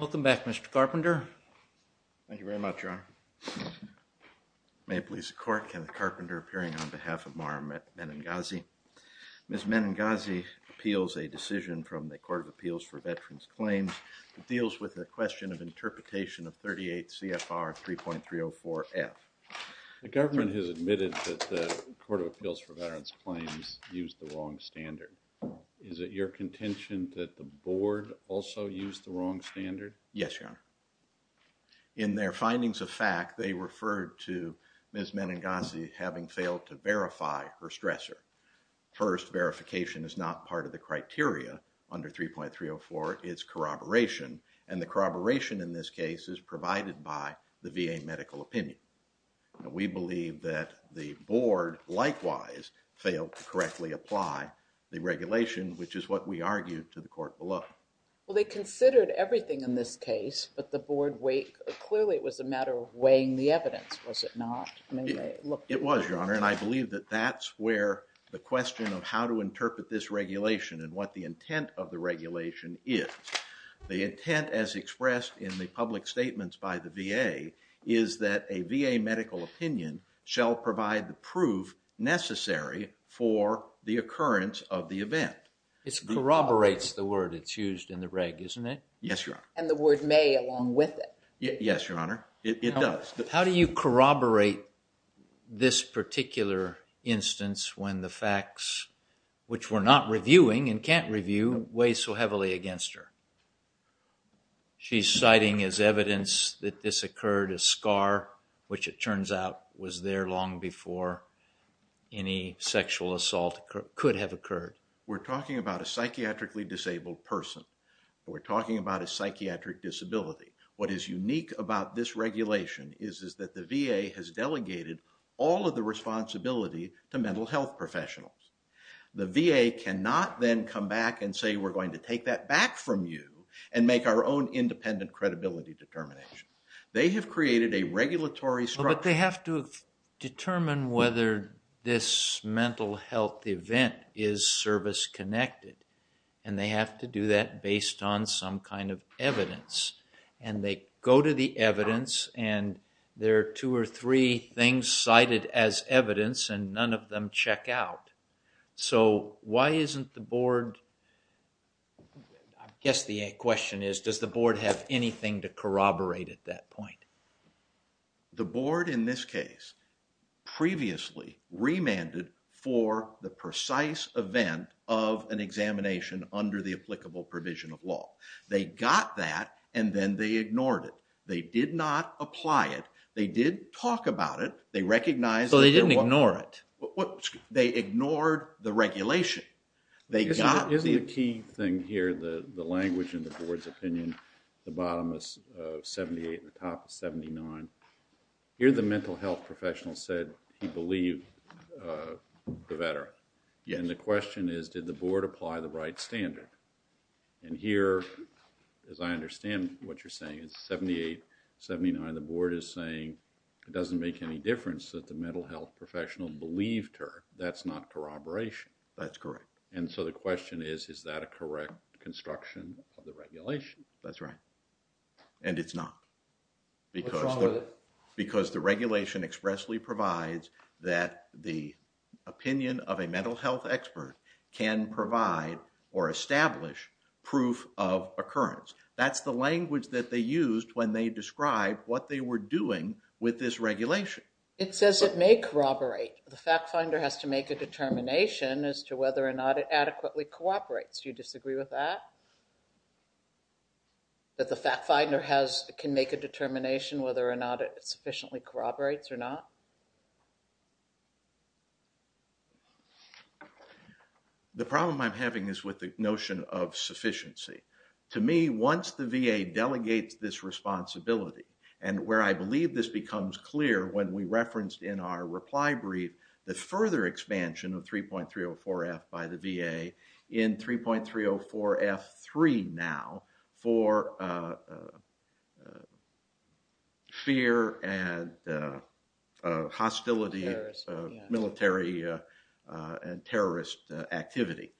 Welcome back, Mr. Carpenter. Thank you very much, Your Honor. May it please the court, Kenneth Carpenter appearing on behalf of Mara Menegassi. Ms. Menegassi appeals a decision from the Court of Appeals for Veterans Claims that deals with the question of interpretation of 38 CFR 3.304F. The government has admitted that the Court of Appeals for Veterans Claims used the wrong standard. Is it your contention that the board also used the wrong standard? Yes, Your Honor. In their findings of fact, they referred to Ms. Menegassi having failed to verify her stressor. First, verification is not part of the criteria under 3.304. It's corroboration, and the corroboration in this case is provided by the VA medical opinion. We believe that the board likewise failed to interpret the regulation, which is what we argued to the court below. Well, they considered everything in this case, but the board weighed, clearly it was a matter of weighing the evidence, was it not? It was, Your Honor, and I believe that that's where the question of how to interpret this regulation and what the intent of the regulation is. The intent, as expressed in the public statements by the VA, is that a VA medical opinion shall provide the proof necessary for the occurrence of the event. It corroborates the word it's used in the reg, isn't it? Yes, Your Honor. And the word may along with it. Yes, Your Honor, it does. How do you corroborate this particular instance when the facts, which we're not reviewing and can't review, weigh so heavily against her? She's citing as evidence that this occurred as scar, which it turns out was there long before any sexual assault could have occurred. We're talking about a psychiatrically disabled person. We're talking about a psychiatric disability. What is unique about this regulation is that the VA has delegated all of the responsibility to mental health professionals. The VA cannot then come back and say we're going to take that back from you and make our own independent credibility determination. They have created a regulatory structure. But they have to determine whether this mental health event is service-connected and they have to do that based on some kind of evidence. And they go to the evidence and there are two or three things cited as evidence and none of them check out. So why isn't the board, I guess the question is, does the board have anything to do with the fact that they previously remanded for the precise event of an examination under the applicable provision of law? They got that and then they ignored it. They did not apply it. They did talk about it. They recognized it. So they didn't ignore it. They ignored the regulation. Isn't the key thing here, the language in the board's opinion, the bottom is 78 and the top is 79. Here the mental health professional said he believed the veteran. And the question is did the board apply the right standard? And here, as I understand what you're saying, it's 78, 79. The board is saying it doesn't make any difference that the mental health professional believed her. That's not corroboration. That's correct. And so the question is, is that a correct construction of the regulation? That's right. And it's not. Because the regulation expressly provides that the opinion of a mental health expert can provide or establish proof of occurrence. That's the language that they used when they described what they were doing with this regulation. It says it may corroborate. The fact finder has to make a determination as to whether or not it adequately cooperates. Do you disagree with that? That the fact finder has, can make a determination whether or not it sufficiently corroborates or not? The problem I'm having is with the notion of sufficiency. To me, once the VA delegates this responsibility, and where I believe this becomes clear when we referenced in our reply brief, the further expansion of 3.304 F by the VA in 3.304 F3 now for fear and hostility, military and terrorist activity.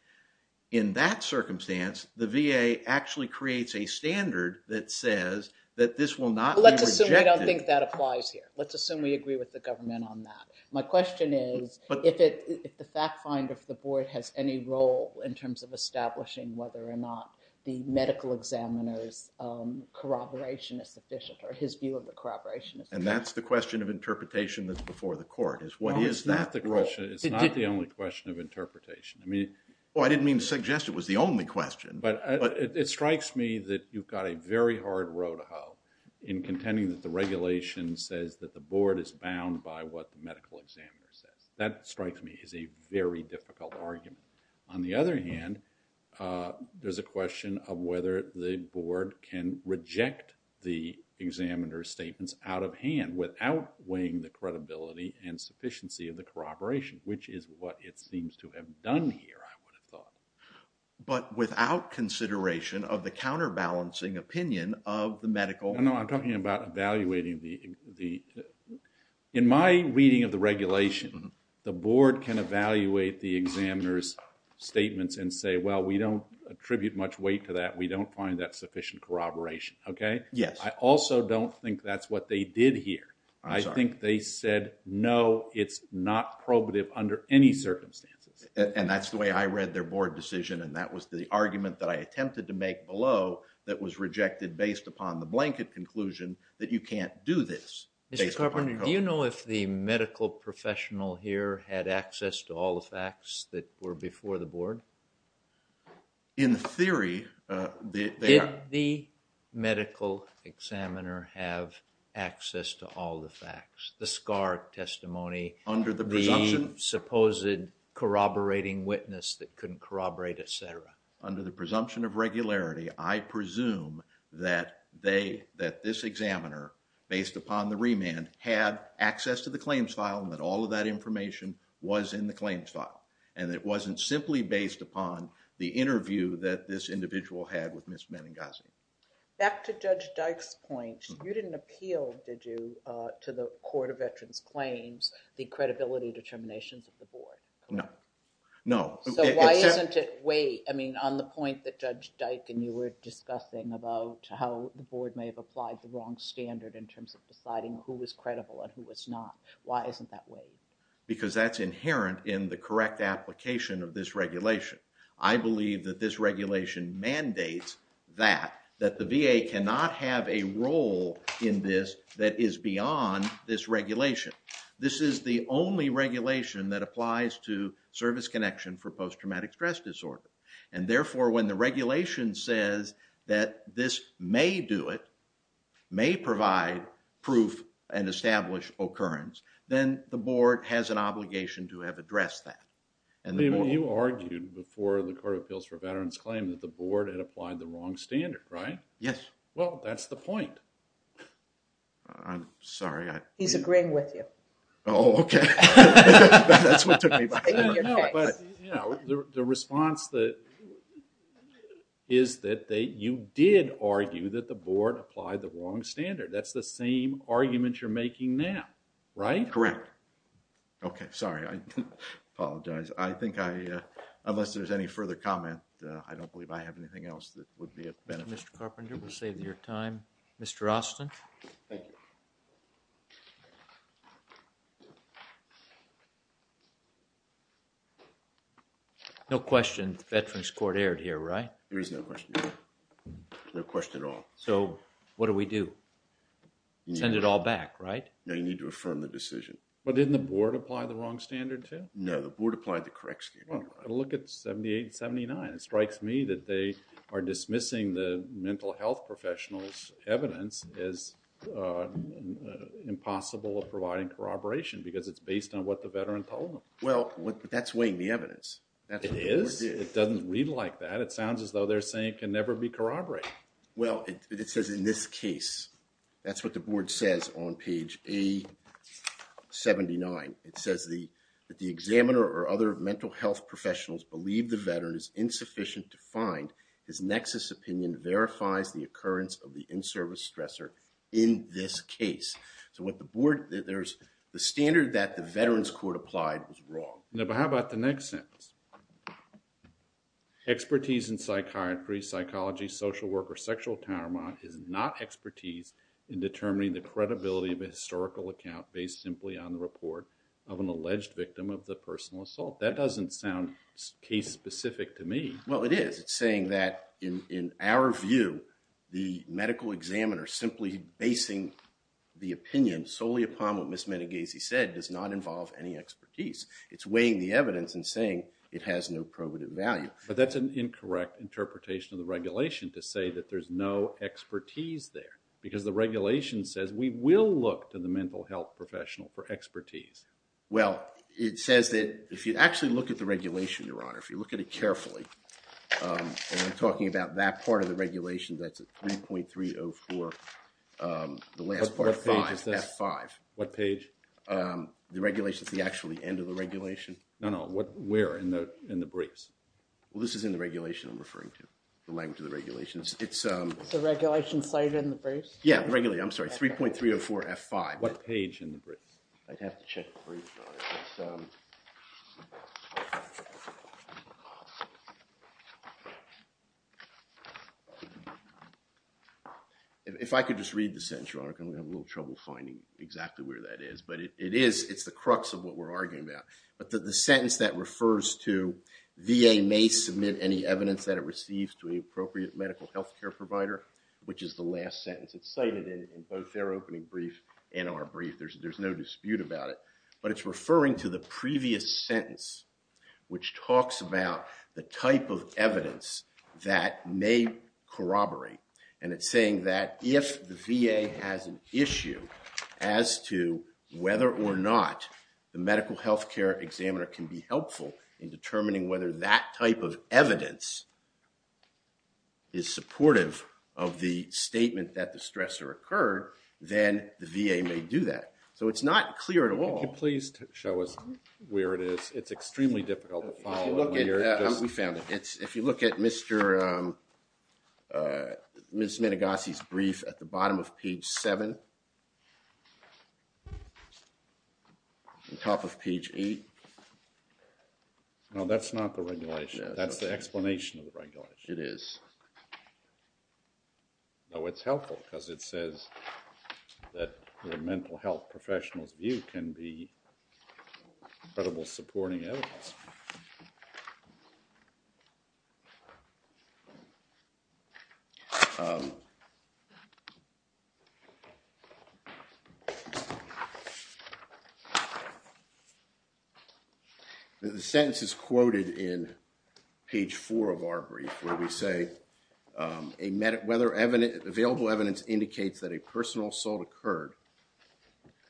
In that circumstance, the VA actually creates a standard that says that this will not be rejected. Let's assume we don't think that applies here. Let's assume we agree with the government on that. My question is, if the fact finder for the board has any role in terms of establishing whether or not the medical examiner's corroboration is sufficient, or his view of the corroboration is sufficient. And that's the question of interpretation that's before the court, is what is that role? It's not the only question of interpretation. I mean, well I didn't mean to suggest it was the only question. But it strikes me that you've got a very hard row to hoe in contending that the regulation says that the board is bound by what the medical examiner says. That strikes me as a very difficult argument. On the other hand, there's a question of whether the board can reject the examiner's statements out of hand without weighing the credibility and sufficiency of the corroboration, which is what it seems to have done here, I would have thought. But without consideration of the counterbalancing opinion of the medical... No, I'm talking about evaluating the... In my reading of the regulation, the board can evaluate the examiner's statements and say, well, we don't attribute much weight to that. We don't find that sufficient corroboration, okay? Yes. I also don't think that's what they did here. I think they said, no, it's not probative under any circumstances. And that's the way I read their board decision, and that was the argument that I attempted to make below that was rejected based upon the blanket conclusion that you can't do this. Mr. Carpenter, do you know if the medical professional here had access to all the facts that were before the board? In theory... Did the medical examiner have access to all the facts? The SCAR testimony... Under the presumption... The supposed corroborating witness that I presume that this examiner, based upon the remand, had access to the claims file and that all of that information was in the claims file. And it wasn't simply based upon the interview that this individual had with Ms. Meningozzi. Back to Judge Dyke's point, you didn't appeal, did you, to the Court of Veterans Claims the credibility determinations of the board? No. No. So why isn't it way... I mean, on the point that Judge Dyke and you were discussing about how the board may have applied the wrong standard in terms of deciding who was credible and who was not, why isn't that way? Because that's inherent in the correct application of this regulation. I believe that this regulation mandates that, that the VA cannot have a role in this that is beyond this regulation. This is the only regulation that applies to service connection for post-traumatic stress disorder. And therefore, when the regulation says that this may do it, may provide proof and establish occurrence, then the board has an obligation to have addressed that. You argued before the Court of Appeals for Veterans Claims that the board had applied the wrong standard, right? Yes. Well, that's the response that, is that they, you did argue that the board applied the wrong standard. That's the same argument you're making now, right? Correct. Okay, sorry, I apologize. I think I, unless there's any further comment, I don't believe I have anything else that would be of benefit. Mr. Carpenter, we'll save your time. Mr. Austin. Thank you. No question, the Veterans Court erred here, right? There is no question. No question at all. So, what do we do? Send it all back, right? No, you need to affirm the decision. But didn't the board apply the wrong standard too? No, the board applied the correct standard. Well, look at 78 and 79. It strikes me that they are dismissing the mental health professional's evidence as impossible of providing corroboration because it's based on what the veteran told them. Well, that's weighing the evidence. It is? It doesn't read like that. It sounds as though they're saying it can never be corroborated. Well, it says in this case, that's what the board says on page A79. It says that the examiner or other mental health professionals believe the of the in-service stressor in this case. So, what the board, there's the standard that the Veterans Court applied was wrong. Now, how about the next sentence? Expertise in psychiatry, psychology, social work, or sexual trauma is not expertise in determining the credibility of a historical account based simply on the report of an alleged victim of the personal assault. That doesn't sound case The medical examiner simply basing the opinion solely upon what Ms. Meneghese said does not involve any expertise. It's weighing the evidence and saying it has no probative value. But that's an incorrect interpretation of the regulation to say that there's no expertise there because the regulation says we will look to the mental health professional for expertise. Well, it says that if you actually look at the regulation, Your Honor, if you look at it 3.304 F5. What page? The regulations, the actual end of the regulation. No, no, what where in the briefs? Well, this is in the regulation I'm referring to, the language of the regulations. It's a regulation cited in the briefs? Yeah, regularly. I'm If I could just read the sentence, Your Honor, I'm going to have a little trouble finding exactly where that is. But it is, it's the crux of what we're arguing about. But that the sentence that refers to VA may submit any evidence that it receives to an appropriate medical health care provider, which is the last sentence. It's cited in both their opening brief and our brief. There's no dispute about it. But it's referring to the previous sentence, which talks about the type of evidence that may corroborate. And it's saying that if the VA has an issue as to whether or not the medical health care examiner can be helpful in determining whether that type of evidence is supportive of the statement that the stressor occurred, then the VA may do that. So it's not clear at all. Please show us where it is. It's extremely difficult to follow. We found it. It's, if you look at Mr. Ms. Menegosi's brief at the bottom of page 7, on top of page 8. No, that's not the regulation. That's the explanation of the regulation. It is. No, it's helpful because it says that the mental health professionals view can be credible supporting evidence. The sentence is quoted in page 4 of our brief where we say whether available evidence indicates that a personal assault occurred,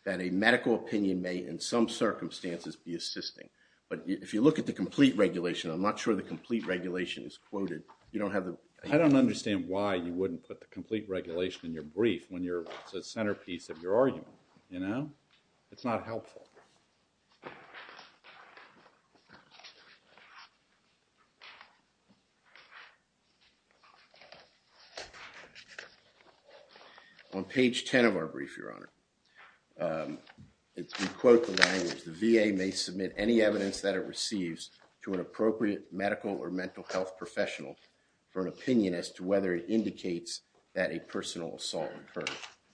that a medical opinion may in some circumstances be assisting. But if you look at the complete regulation, I'm not sure the complete regulation is quoted. You don't have the... I don't understand why you wouldn't put the complete regulation in your brief when you're the centerpiece of your argument, you know? It's not helpful. On page 10 of our brief, Your Honor, it's, we quote the language, the VA may submit any evidence that it receives to an appropriate medical or mental health professional for an opinion as to whether it indicates that a personal assault occurred.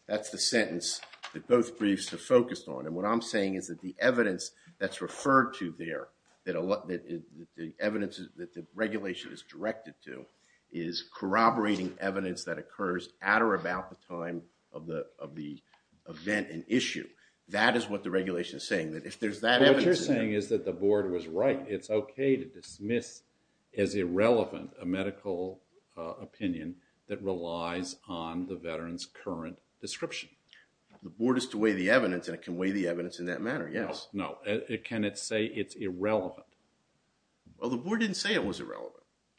That's the sentence that both briefs are focused on. And what I'm saying is that the evidence that's referred to there, that a lot, the evidence that the regulation is directed to, is corroborating evidence that occurs at or about the time of the event and issue. That is what the regulation is saying. That if there's that evidence... What you're saying is that the board was right. It's okay to dismiss as irrelevant a medical opinion that relies on the veteran's current description. The board is to weigh the evidence and it can weigh the evidence in that matter. Yes. No. Can it say it's irrelevant? Well, the board didn't say it was irrelevant.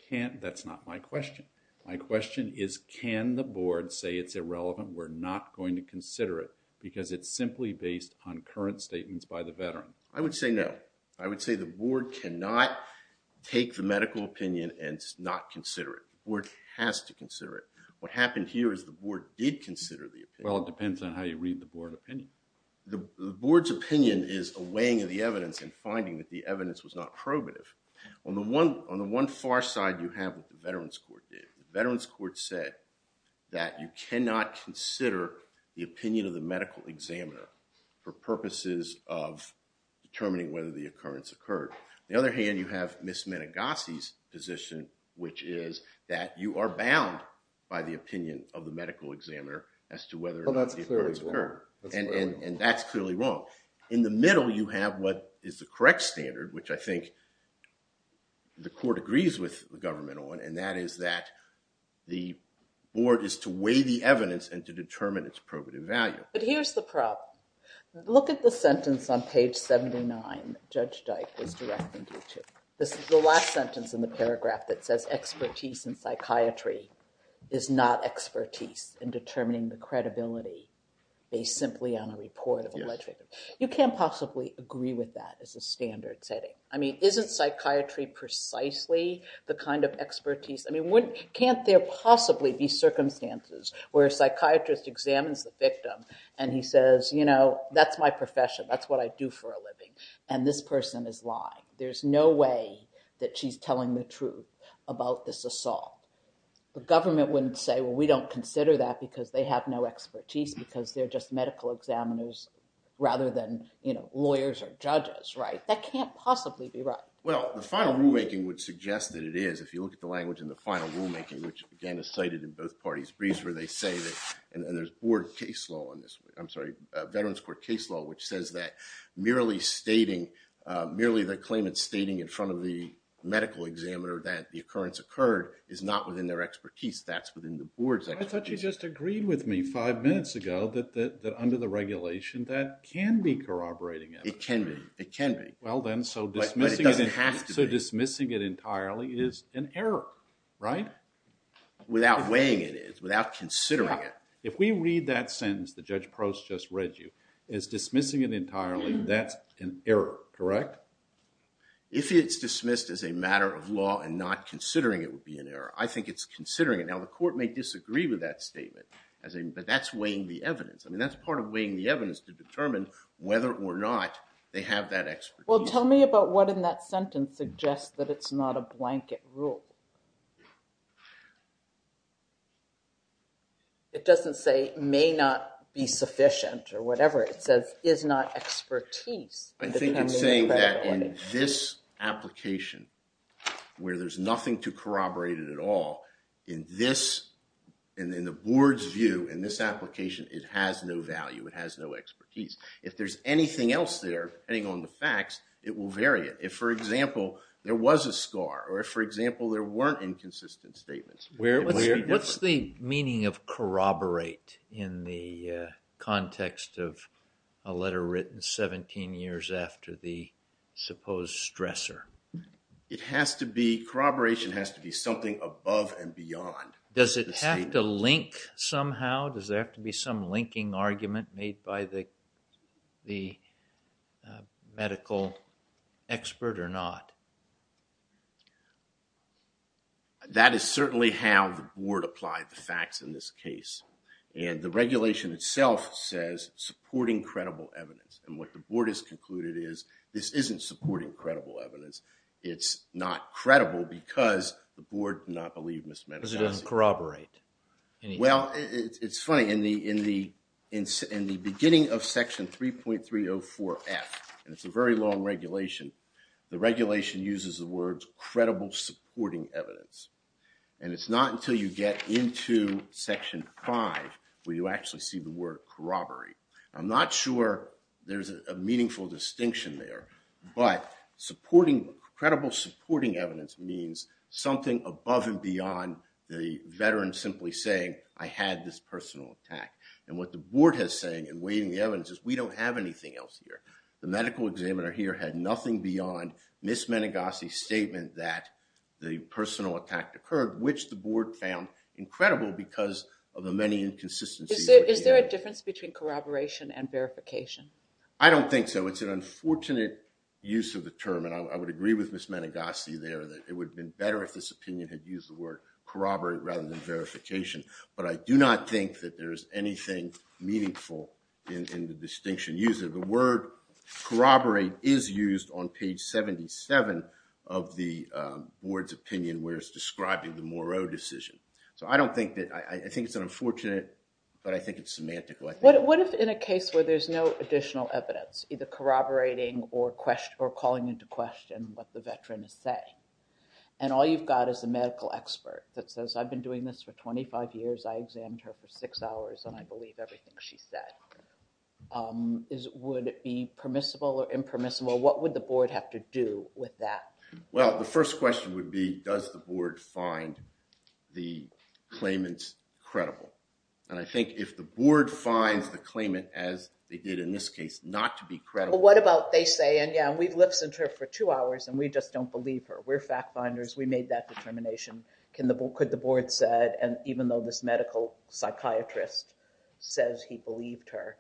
Can't, that's not my question. My question is can the board say it's irrelevant? We're not going to consider it because it's simply based on current statements by the veteran. I would say no. I would say the board cannot take the medical opinion and not consider it. The board has to consider it. What happened here is the board did consider the opinion. Well, it depends on how you read the board opinion. The board's opinion is a weighing of the evidence and finding that the evidence was not probative. On the one on the one far side you have what the Veterans Court did. The Veterans Court said that you cannot consider the opinion of the medical examiner for purposes of determining whether the occurrence occurred. On the other hand, you have Ms. Menegosi's position, which is that you are bound by the opinion of the medical examiner as to whether or not the occurrence occurred. Well, that's clearly wrong. And that's clearly wrong. In the middle you have what is the correct standard, which I think the court agrees with the government on, and that is that the board is to weigh the evidence and to determine its probative value. But here's the problem. Look at the sentence on page 79 that Judge Dyke is directing you to. This is the last sentence in the paragraph that says expertise in psychiatry is not expertise in determining the credibility based simply on a report of alleged victims. You can't possibly agree with that as a standard setting. I mean, isn't psychiatry precisely the kind of expertise? I mean, can't there possibly be circumstances where a psychiatrist examines the victim and he says, you know, that's my profession. That's what I do for a living. And this person is lying. There's no way that she's telling the truth about this assault. The government wouldn't say, well, we don't consider that because they have no expertise, because they're just medical examiners rather than, you know, lawyers or judges, right? That can't possibly be right. Well, the final rulemaking would suggest that it is, if you look at the language in the final rulemaking, which again is cited in both parties' briefs, where they say that, and there's board case law on this, I'm sorry, Veterans Court case law, which says that merely stating, merely the claimant stating in front of the medical examiner that the occurrence occurred is not within their expertise. That's within the board's expertise. I thought you just agreed with me five minutes ago that under the regulation that can be corroborating it. It can be. It can be. Well then, so dismissing it entirely is an error, right? Without weighing it is, without considering it. If we read that sentence that Judge Prost just read you, is dismissing it entirely, that's an error, correct? If it's dismissed as a matter of law and not considering it would be an error. I think it's considering it. Now, the court may disagree with that statement, but that's weighing the evidence. I mean, that's part of weighing the evidence to determine whether or not they have that expertise. Well, tell me about what in that sentence suggests that it's not a blanket rule. It doesn't say, may not be sufficient or whatever. It says, is not expertise. I think it's saying that in this application where there's nothing to corroborate it at all, in this and in the board's view, in this application, it has no value. It has no expertise. If there's anything else there, depending on the facts, it will vary it. If, for example, there was a scar or if, for example, there weren't inconsistent statements. What's the meaning of corroborate in the context of a letter written 17 years after the supposed stressor? It has to be, corroboration has to be something above and beyond. Does it have to link somehow? Does there have to be some linking argument made by the medical expert or not? That is certainly how the board applied the facts in this case, and the regulation itself says supporting credible evidence, and what the board has concluded is this isn't supporting credible evidence. It's not credible because the board did not believe Ms. Madison. Because it doesn't corroborate. Well, it's funny. In the beginning of Section 3.304F, and it's a very long regulation, the regulation uses the words credible supporting evidence, and it's not until you get into Section 5 where you actually see the word corroborate. I'm not sure there's a meaningful distinction there, but supporting credible supporting evidence means something above and beyond the veteran simply saying I had this personal attack, and what the board has saying in waiving the evidence is we don't have anything else here. The medical examiner here had nothing beyond Ms. Menegosi's statement that the personal attack occurred, which the board found incredible because of the many inconsistencies. Is there a difference between corroboration and verification? I don't think so. It's an unfortunate use of the term, and I would agree with Ms. Menegosi there that it would have been better if this opinion had used the word corroborate rather than verification, but I do not think that there's anything meaningful in the distinction used. The word corroborate is used on page 77 of the board's opinion where it's describing the Moreau decision, so I don't think that, I think it's unfortunate, but I think it's semantical. What if in a case where there's no additional evidence, either corroborating or calling into question what the veteran is saying, and all you've got is a medical expert that says I've been doing this for 25 years, I examined her for six hours, and I believe everything she said. Would it be permissible or impermissible? What would the board have to do with that? Well, the first question would be does the board find the claimants credible, and I think if the board finds the claimant, as they did in this case, not to be credible. What about they say, and yeah, we've listened to her for two hours, and we just don't believe her. We're fact finders. We made that determination. Could the board say, and even though this medical psychiatrist says he believed her,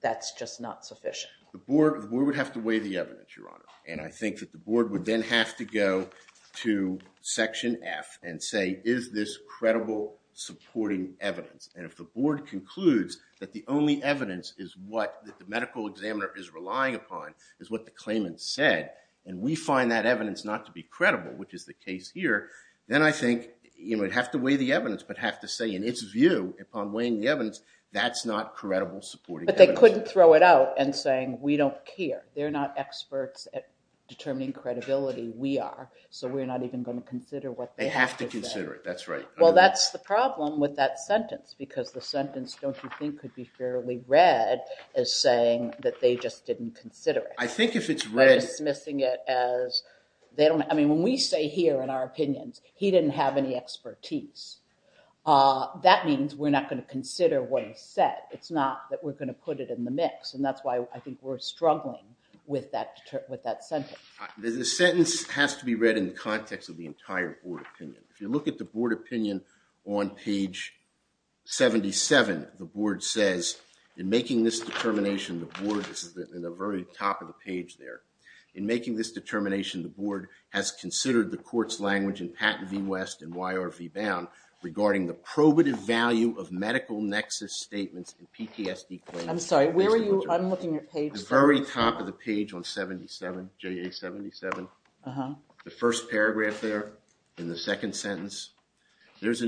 that's just not sufficient? The board would have to weigh the evidence, Your Honor, and I think that the board would then have to go to section F and say is this credible supporting evidence, and if the board concludes that the only evidence is what the medical examiner is relying upon is what the claimant said, and we find that evidence not to be credible, which is the case here, then I think you would have to weigh the evidence, but have to say in its view, upon weighing the evidence, that's not credible supporting evidence. But they couldn't throw it out and say we don't care. They're not experts at determining credibility. We are, so we're not even going to consider what they have to say. They have to consider it. That's right. Well, that's the problem with that sentence, because the sentence, don't you think, could be fairly read as saying that they just didn't consider it. I think if it's read... Dismissing it as they don't, I mean, when we say here in our opinions, he didn't have any expertise. That means we're not going to consider what he said. It's not that we're going to put it in the mix, and that's why I think we're struggling with that sentence. The sentence has to be read in the context of the entire board opinion. If you look at the board opinion on page 77, the board says, in making this determination, the board, this is in the very top of the page there, in making this determination, the board has considered the court's language in Patent v. West and YR v. Bound regarding the probative value of medical nexus statements and PTSD claims. I'm sorry, where are you? I'm looking at page... There's an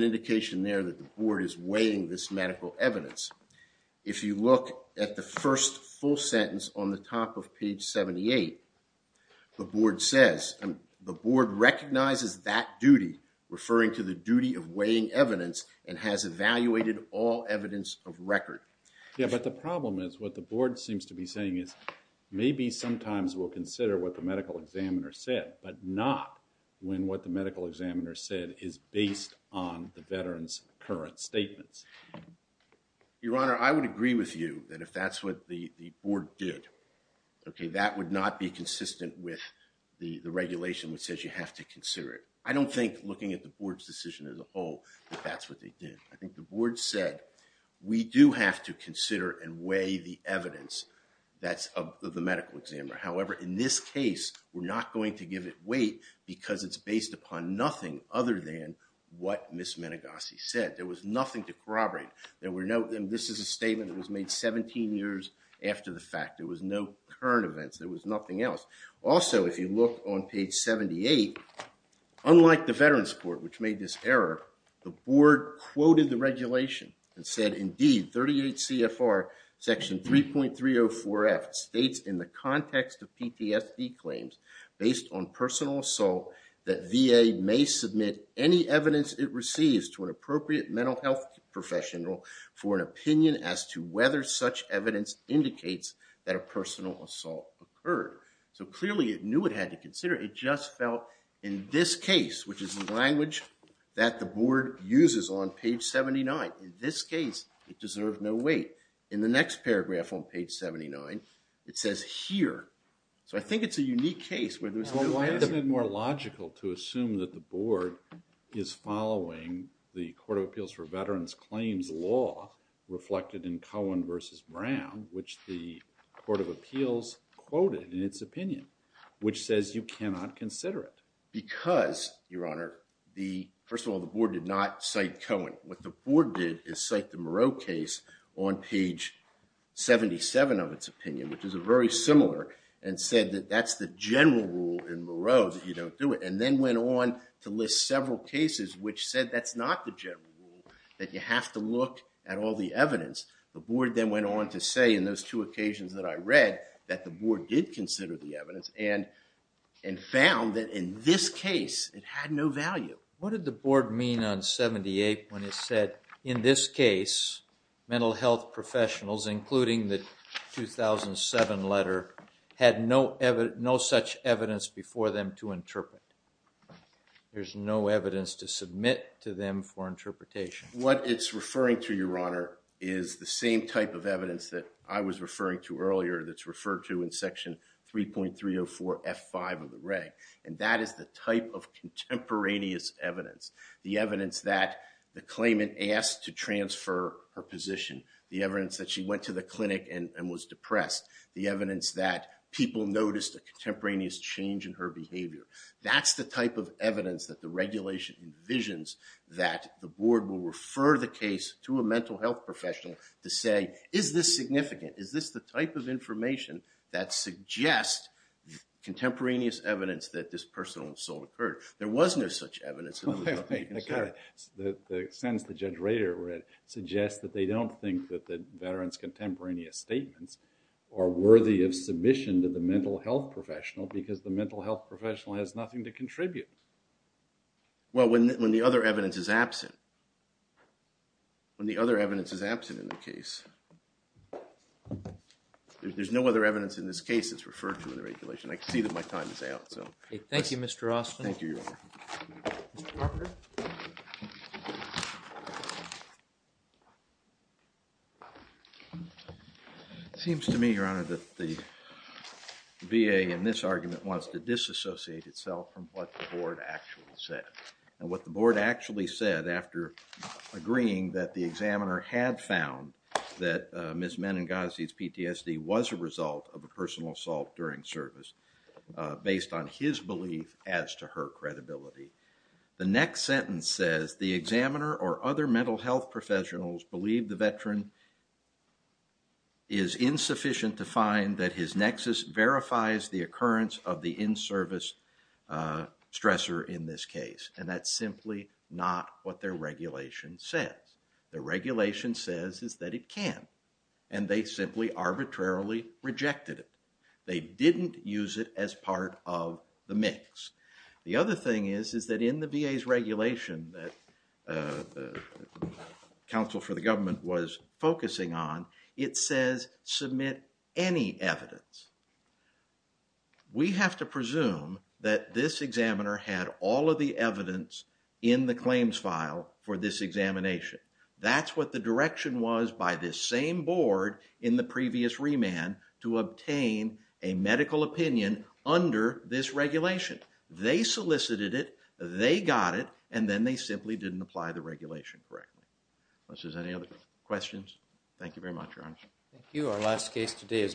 indication there that the board is weighing this medical evidence. If you look at the first full sentence on the top of page 78, the board says, the board recognizes that duty, referring to the duty of weighing evidence, and has evaluated all evidence of record. Yeah, but the problem is, what the board seems to be saying is, maybe sometimes we'll consider what the medical examiner said, but not when what the medical examiner said is based on the veteran's current statements. Your Honor, I would agree with you that if that's what the board did, that would not be consistent with the regulation which says you have to consider it. I don't think, looking at the board's decision as a whole, that that's what they did. I think the board said, we do have to consider and weigh the evidence that's of the medical examiner. However, in this case, we're not going to give it weight because it's based upon nothing other than what Ms. Menegosi said. There was nothing to corroborate. There were no... This is a statement that was made 17 years after the fact. There was no current events. There was nothing else. Also, if you look on page 78, unlike the veteran's report, which made this error, the board quoted the regulation and said, indeed, 38 CFR section 3.304F states in the context of PTSD claims based on personal assault that VA may submit any evidence it receives to an appropriate mental health professional for an opinion as to whether such evidence indicates that a personal assault occurred. So clearly, it knew it had to consider. It just felt, in this case, which is the language that the board uses on page 79, in this case, it deserved no weight. In the next paragraph on page 79, it says here. So I think it's a unique case where there's no... Well, why isn't it more logical to assume that the board is following the Court of Appeals for Veterans Claims law reflected in Cohen versus Brown, which the Court of Appeals quoted in its opinion, which says you cannot consider it. Because, Your Honor, first of all, the board did not cite Cohen. What the board did is cite the Moreau case on page 77 of its opinion, which is very similar, and said that that's the general rule in Moreau that you don't do it. And then went on to list several cases which said that's not the general rule, that you have to look at all the evidence. The board then went on to say, in those two occasions that I read, that the board did consider the evidence and found that, in this case, it had no value. What did the board mean on 78 when it said, in this case, mental health professionals, including the 2007 letter, had no such evidence before them to interpret? There's no evidence to submit to them for interpretation. What it's referring to, Your Honor, is the same type of evidence that I was referring to earlier that's referred to in section 3.304 F5 of the reg. And that is the type of contemporaneous evidence. The evidence that the claimant asked to transfer her position. The evidence that she went to the clinic and was depressed. The evidence that people noticed a contemporaneous change in her behavior. That's the type of evidence that the regulation envisions that the board will refer the case to a mental health professional to say, is this significant? Is this the type of information that suggests contemporaneous evidence that this personal assault occurred? There was no such evidence. The sentence that Judge Rader read suggests that they don't think that the veteran's contemporaneous nothing to contribute. Well, when the other evidence is absent. When the other evidence is absent in the case, there's no other evidence in this case that's referred to in the regulation. I can see that my time is out, so. Thank you, Mr. Austin. Thank you, Your Honor. Mr. Parker. It seems to me, Your Honor, that the VA in this argument wants to disassociate itself from what the board actually said. And what the board actually said after agreeing that the examiner had found that Ms. Menengazi's PTSD was a result of a personal assault during service based on his belief as to her credibility. The next sentence says, the examiner or other mental health professionals believe the veteran is insufficient to find that his nexus verifies the occurrence of the in-service stressor in this case. And that's simply not what their regulation says. The regulation says is that it can. And they simply arbitrarily rejected it. They didn't use it as part of the mix. The other thing is, is that in the VA's regulation that the counsel for the government was focusing on, it says submit any evidence. We have to presume that this examiner had all of the evidence in the claims file for this examination. That's what the direction was by this same board in the previous remand to obtain a medical opinion under this regulation. They solicited it. They got it. And then they simply didn't apply the regulation correctly. Unless there's any other questions. Thank you very much, Your Honor. Thank you. Our last case today is.